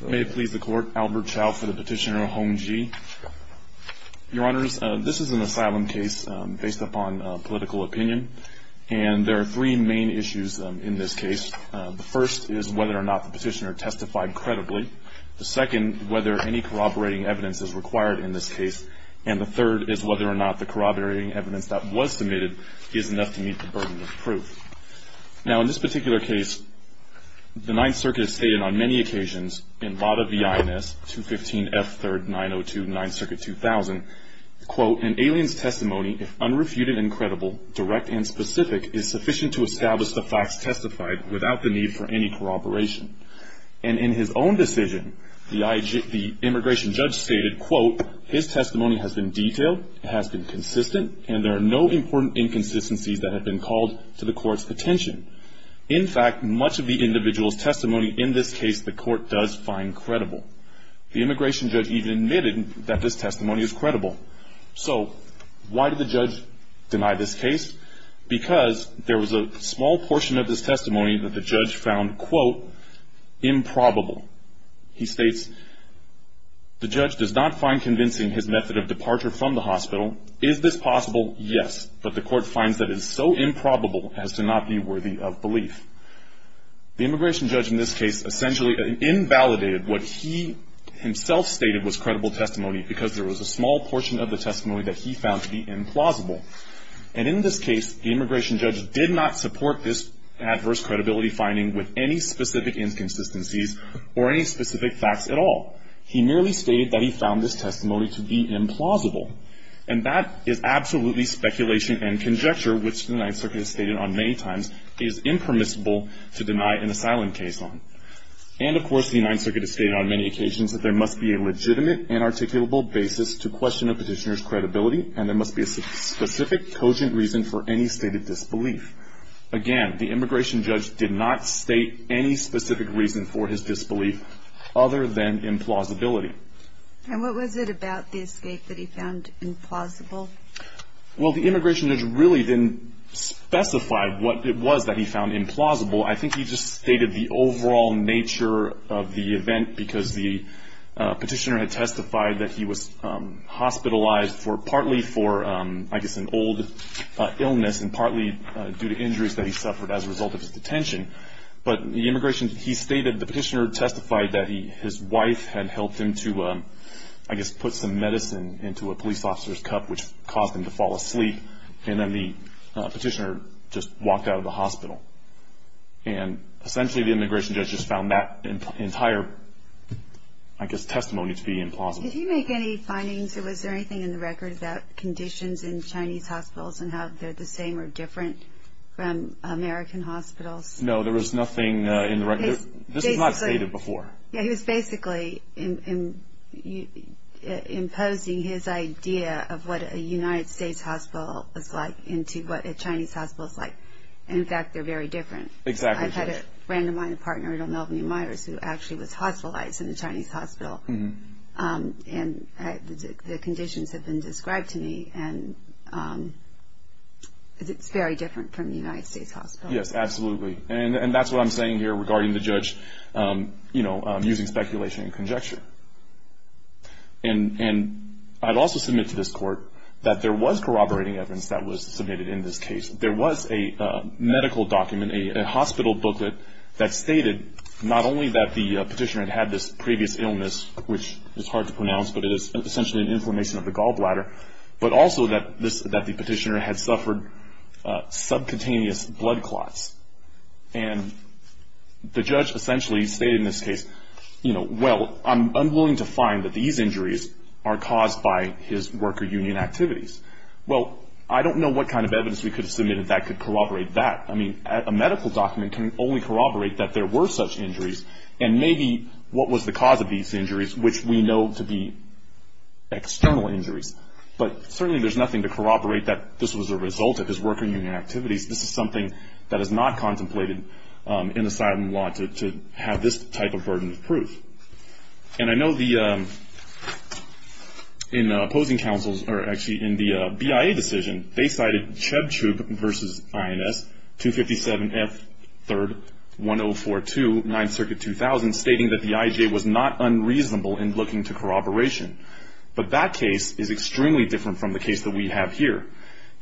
May it please the Court, Albert Chow for the Petitioner, Hong Ji. Your Honors, this is an asylum case based upon political opinion. And there are three main issues in this case. The first is whether or not the Petitioner testified credibly. The second, whether any corroborating evidence is required in this case. And the third is whether or not the corroborating evidence that was submitted is enough to meet the burden of proof. Now, in this particular case, the Ninth Circuit has stated on many occasions, in Vada v. INS, 215 F. 3rd, 902, 9th Circuit, 2000, quote, an alien's testimony, if unrefuted and credible, direct and specific, is sufficient to establish the facts testified without the need for any corroboration. And in his own decision, the immigration judge stated, quote, his testimony has been detailed, has been consistent, and there are no important inconsistencies that have been called to the Court's attention. In fact, much of the individual's testimony in this case the Court does find credible. The immigration judge even admitted that this testimony is credible. So why did the judge deny this case? Because there was a small portion of his testimony that the judge found, quote, improbable. He states, the judge does not find convincing his method of departure from the hospital. Is this possible? Yes, but the Court finds that it is so improbable as to not be worthy of belief. The immigration judge in this case essentially invalidated what he himself stated was credible testimony because there was a small portion of the testimony that he found to be implausible. And in this case, the immigration judge did not support this adverse credibility finding with any specific inconsistencies or any specific facts at all. He merely stated that he found this testimony to be implausible. And that is absolutely speculation and conjecture, which the Ninth Circuit has stated on many times, is impermissible to deny an asylum case on. And, of course, the Ninth Circuit has stated on many occasions that there must be a legitimate and articulable basis to question a petitioner's credibility, and there must be a specific, cogent reason for any stated disbelief. Again, the immigration judge did not state any specific reason for his disbelief other than implausibility. And what was it about the escape that he found implausible? Well, the immigration judge really didn't specify what it was that he found implausible. I think he just stated the overall nature of the event because the petitioner had testified that he was hospitalized for partly for, I guess, an old illness and partly due to injuries that he suffered as a result of his detention. But the immigration, he stated the petitioner testified that his wife had helped him to, I guess, put some medicine into a police officer's cup, which caused him to fall asleep, and then the petitioner just walked out of the hospital. And, essentially, the immigration judge just found that entire, I guess, testimony to be implausible. Did he make any findings or was there anything in the record about conditions in Chinese hospitals and how they're the same or different from American hospitals? No, there was nothing in the record. This was not stated before. Yeah, he was basically imposing his idea of what a United States hospital is like into what a Chinese hospital is like. And, in fact, they're very different. Exactly. I've had a random-minded partner, Edel Melvin Myers, who actually was hospitalized in a Chinese hospital. And the conditions have been described to me, and it's very different from a United States hospital. Yes, absolutely. And that's what I'm saying here regarding the judge, you know, using speculation and conjecture. And I'd also submit to this Court that there was corroborating evidence that was submitted in this case. There was a medical document, a hospital booklet, that stated not only that the petitioner had had this previous illness, which is hard to pronounce, but it is essentially an inflammation of the gallbladder, but also that the petitioner had suffered subcutaneous blood clots. And the judge essentially stated in this case, you know, well, I'm willing to find that these injuries are caused by his worker union activities. Well, I don't know what kind of evidence we could have submitted that could corroborate that. I mean, a medical document can only corroborate that there were such injuries and maybe what was the cause of these injuries, which we know to be external injuries. But certainly there's nothing to corroborate that this was a result of his worker union activities. This is something that is not contemplated in asylum law to have this type of burden of proof. And I know the opposing counsels, or actually in the BIA decision, they cited Chebchuk v. INS 257F3-1042, 9th Circuit 2000, stating that the IJ was not unreasonable in looking to corroboration. But that case is extremely different from the case that we have here.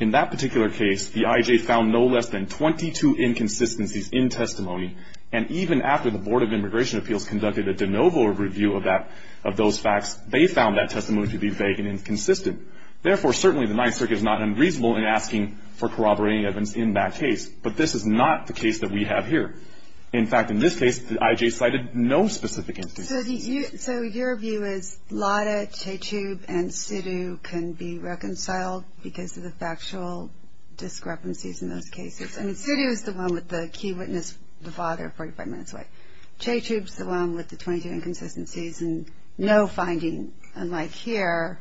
In that particular case, the IJ found no less than 22 inconsistencies in testimony, and even after the Board of Immigration Appeals conducted a de novo review of those facts, they found that testimony to be vague and inconsistent. Therefore, certainly the 9th Circuit is not unreasonable in asking for corroborating evidence in that case. But this is not the case that we have here. In fact, in this case, the IJ cited no specific inconsistencies. So your view is Lada, Chebchuk, and Sidhu can be reconciled because of the factual discrepancies in those cases? I mean, Sidhu is the one with the key witness, the father, 45 minutes away. Chebchuk is the one with the 22 inconsistencies, and no finding, unlike here,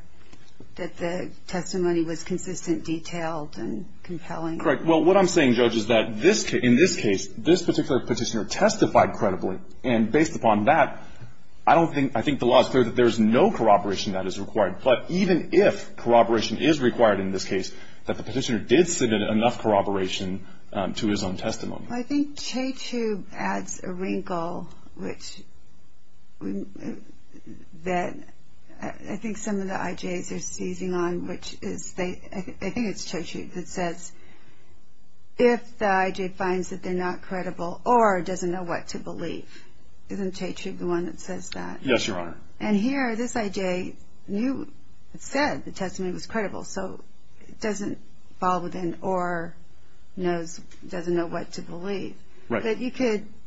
that the testimony was consistent, detailed, and compelling. Correct. Well, what I'm saying, Judge, is that in this case, this particular petitioner testified credibly. And based upon that, I don't think – I think the law is clear that there is no corroboration that is required. But even if corroboration is required in this case, that the petitioner did submit enough corroboration to his own testimony. Well, I think Chebchuk adds a wrinkle which – that I think some of the IJs are seizing on, which is they – I think it's Chebchuk that says if the IJ finds that they're not credible or doesn't know what to believe. Isn't Chebchuk the one that says that? Yes, Your Honor. And here, this IJ knew – said the testimony was credible. So it doesn't fall within or knows – doesn't know what to believe. Right. But you could –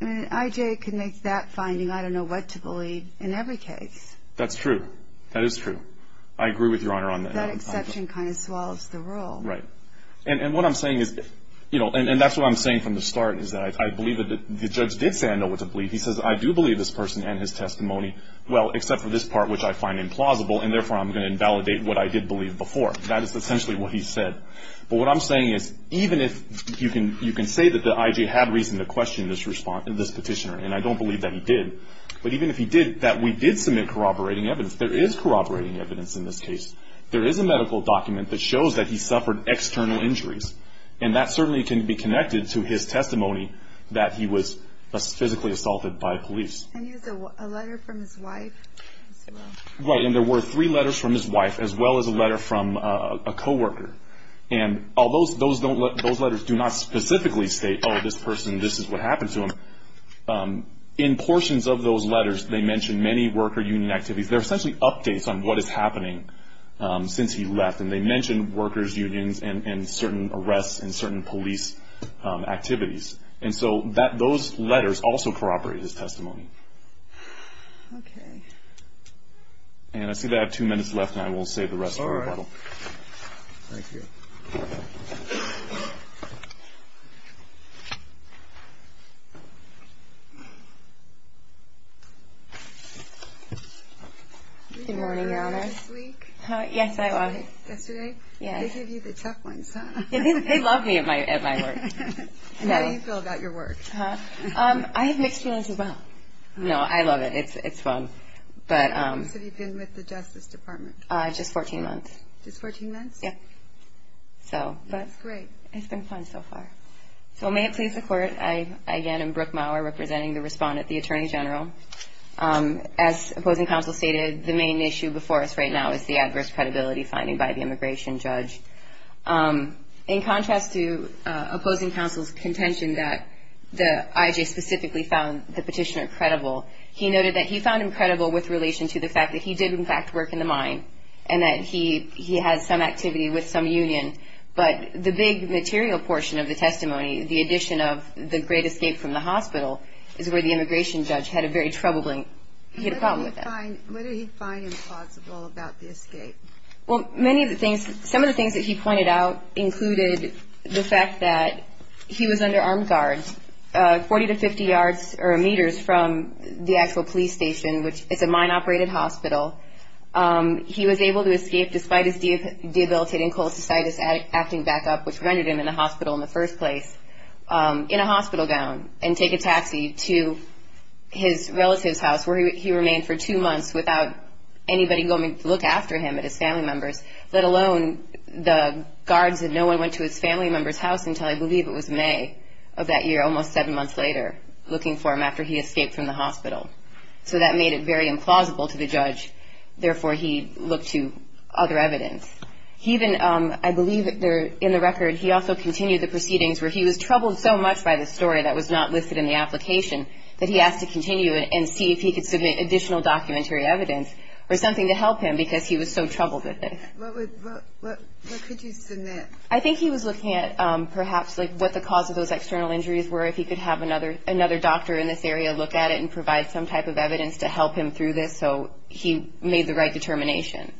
an IJ could make that finding, I don't know what to believe, in every case. That's true. That is true. I agree with Your Honor on that. That exception kind of swallows the role. Right. And what I'm saying is – you know, and that's what I'm saying from the start, is that I believe that the judge did say I know what to believe. He says I do believe this person and his testimony. Well, except for this part, which I find implausible, and therefore I'm going to invalidate what I did believe before. That is essentially what he said. But what I'm saying is even if you can say that the IJ had reason to question this petitioner, and I don't believe that he did, but even if he did, that we did submit corroborating evidence. There is corroborating evidence in this case. There is a medical document that shows that he suffered external injuries. And that certainly can be connected to his testimony that he was physically assaulted by police. And he has a letter from his wife as well. Right. And there were three letters from his wife as well as a letter from a coworker. And although those letters do not specifically state, oh, this person, this is what happened to him, in portions of those letters they mention many worker union activities. They're essentially updates on what is happening since he left. And they mention workers unions and certain arrests and certain police activities. And so those letters also corroborate his testimony. Okay. And I see that I have two minutes left, and I will save the rest for rebuttal. All right. Thank you. Good morning, Your Honor. How are you this week? Yes, I am. Yesterday? Yes. They gave you the tough ones, huh? They love me at my work. How do you feel about your work? I have mixed feelings as well. No, I love it. It's fun. How long have you been with the Justice Department? Just 14 months. Just 14 months? Yes. That's great. It's been fun so far. So may it please the Court, I again am Brooke Maurer, representing the respondent, the Attorney General. As opposing counsel stated, the main issue before us right now is the adverse credibility finding by the immigration judge. In contrast to opposing counsel's contention that the I.J. specifically found the petitioner credible, he noted that he found him credible with relation to the fact that he did, in fact, work in the mine and that he had some activity with some union. But the big material portion of the testimony, the addition of the great escape from the hospital, is where the immigration judge had a very troubling problem with that. What did he find impossible about the escape? Well, some of the things that he pointed out included the fact that he was under armed guards 40 to 50 yards or meters from the actual police station, which is a mine-operated hospital. He was able to escape despite his debilitating cholecystitis acting back up, which rendered him in the hospital in the first place, in a hospital gown and take a taxi to his relative's house where he remained for two months without anybody going to look after him and his family members, let alone the guards. And no one went to his family member's house until I believe it was May of that year, almost seven months later, looking for him after he escaped from the hospital. So that made it very implausible to the judge. Therefore, he looked to other evidence. He even, I believe in the record, he also continued the proceedings where he was troubled so much by the story that was not listed in the application that he asked to continue it and see if he could submit additional documentary evidence or something to help him because he was so troubled with it. What could you submit? I think he was looking at perhaps what the cause of those external injuries were, if he could have another doctor in this area look at it and provide some type of evidence to help him through this so he made the right determination.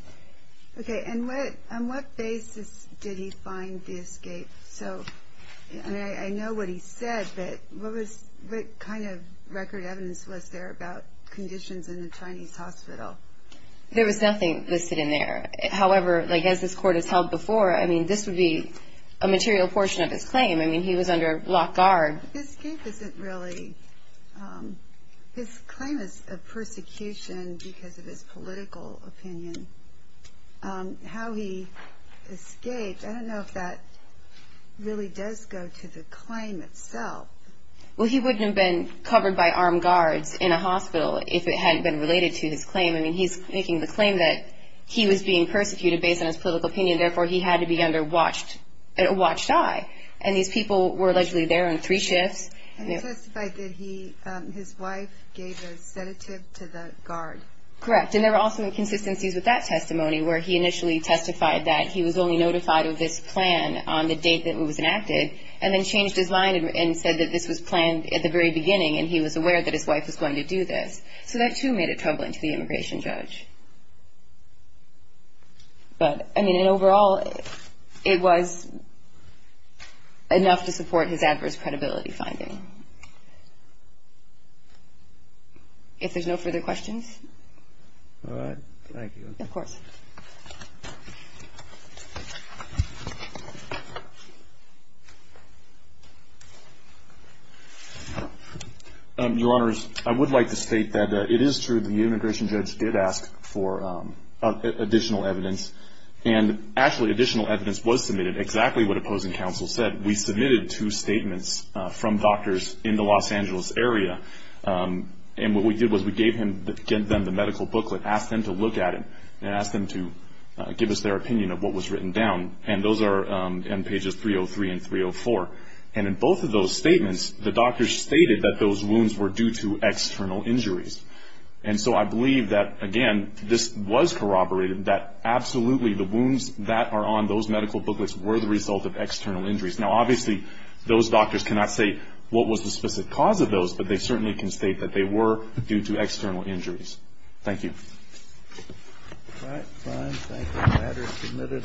Okay, and on what basis did he find the escape? So I know what he said, but what kind of record evidence was there about conditions in the Chinese hospital? There was nothing listed in there. However, as this Court has held before, I mean, this would be a material portion of his claim. I mean, he was under lock, guard. His escape isn't really, his claim is a persecution because of his political opinion. How he escaped, I don't know if that really does go to the claim itself. Well, he wouldn't have been covered by armed guards in a hospital if it hadn't been related to his claim. I mean, he's making the claim that he was being persecuted based on his political opinion, and therefore he had to be under watched eye, and these people were allegedly there on three shifts. And he testified that his wife gave a sedative to the guard. Correct, and there were also inconsistencies with that testimony, where he initially testified that he was only notified of this plan on the date that it was enacted, and then changed his mind and said that this was planned at the very beginning and he was aware that his wife was going to do this. So that, too, made it troubling to the immigration judge. But, I mean, in overall, it was enough to support his adverse credibility finding. If there's no further questions. All right. Thank you. Of course. Your Honors, I would like to state that it is true that the immigration judge did ask for additional evidence, and actually additional evidence was submitted, exactly what opposing counsel said. We submitted two statements from doctors in the Los Angeles area, and what we did was we gave them the medical booklet, asked them to look at it, and asked them to give us their opinion. And those are in pages 303 and 304. And in both of those statements, the doctors stated that those wounds were due to external injuries. And so I believe that, again, this was corroborated, that absolutely the wounds that are on those medical booklets were the result of external injuries. Now, obviously, those doctors cannot say what was the specific cause of those, but they certainly can state that they were due to external injuries. Thank you. All right. Fine. Thank you. The matter is submitted.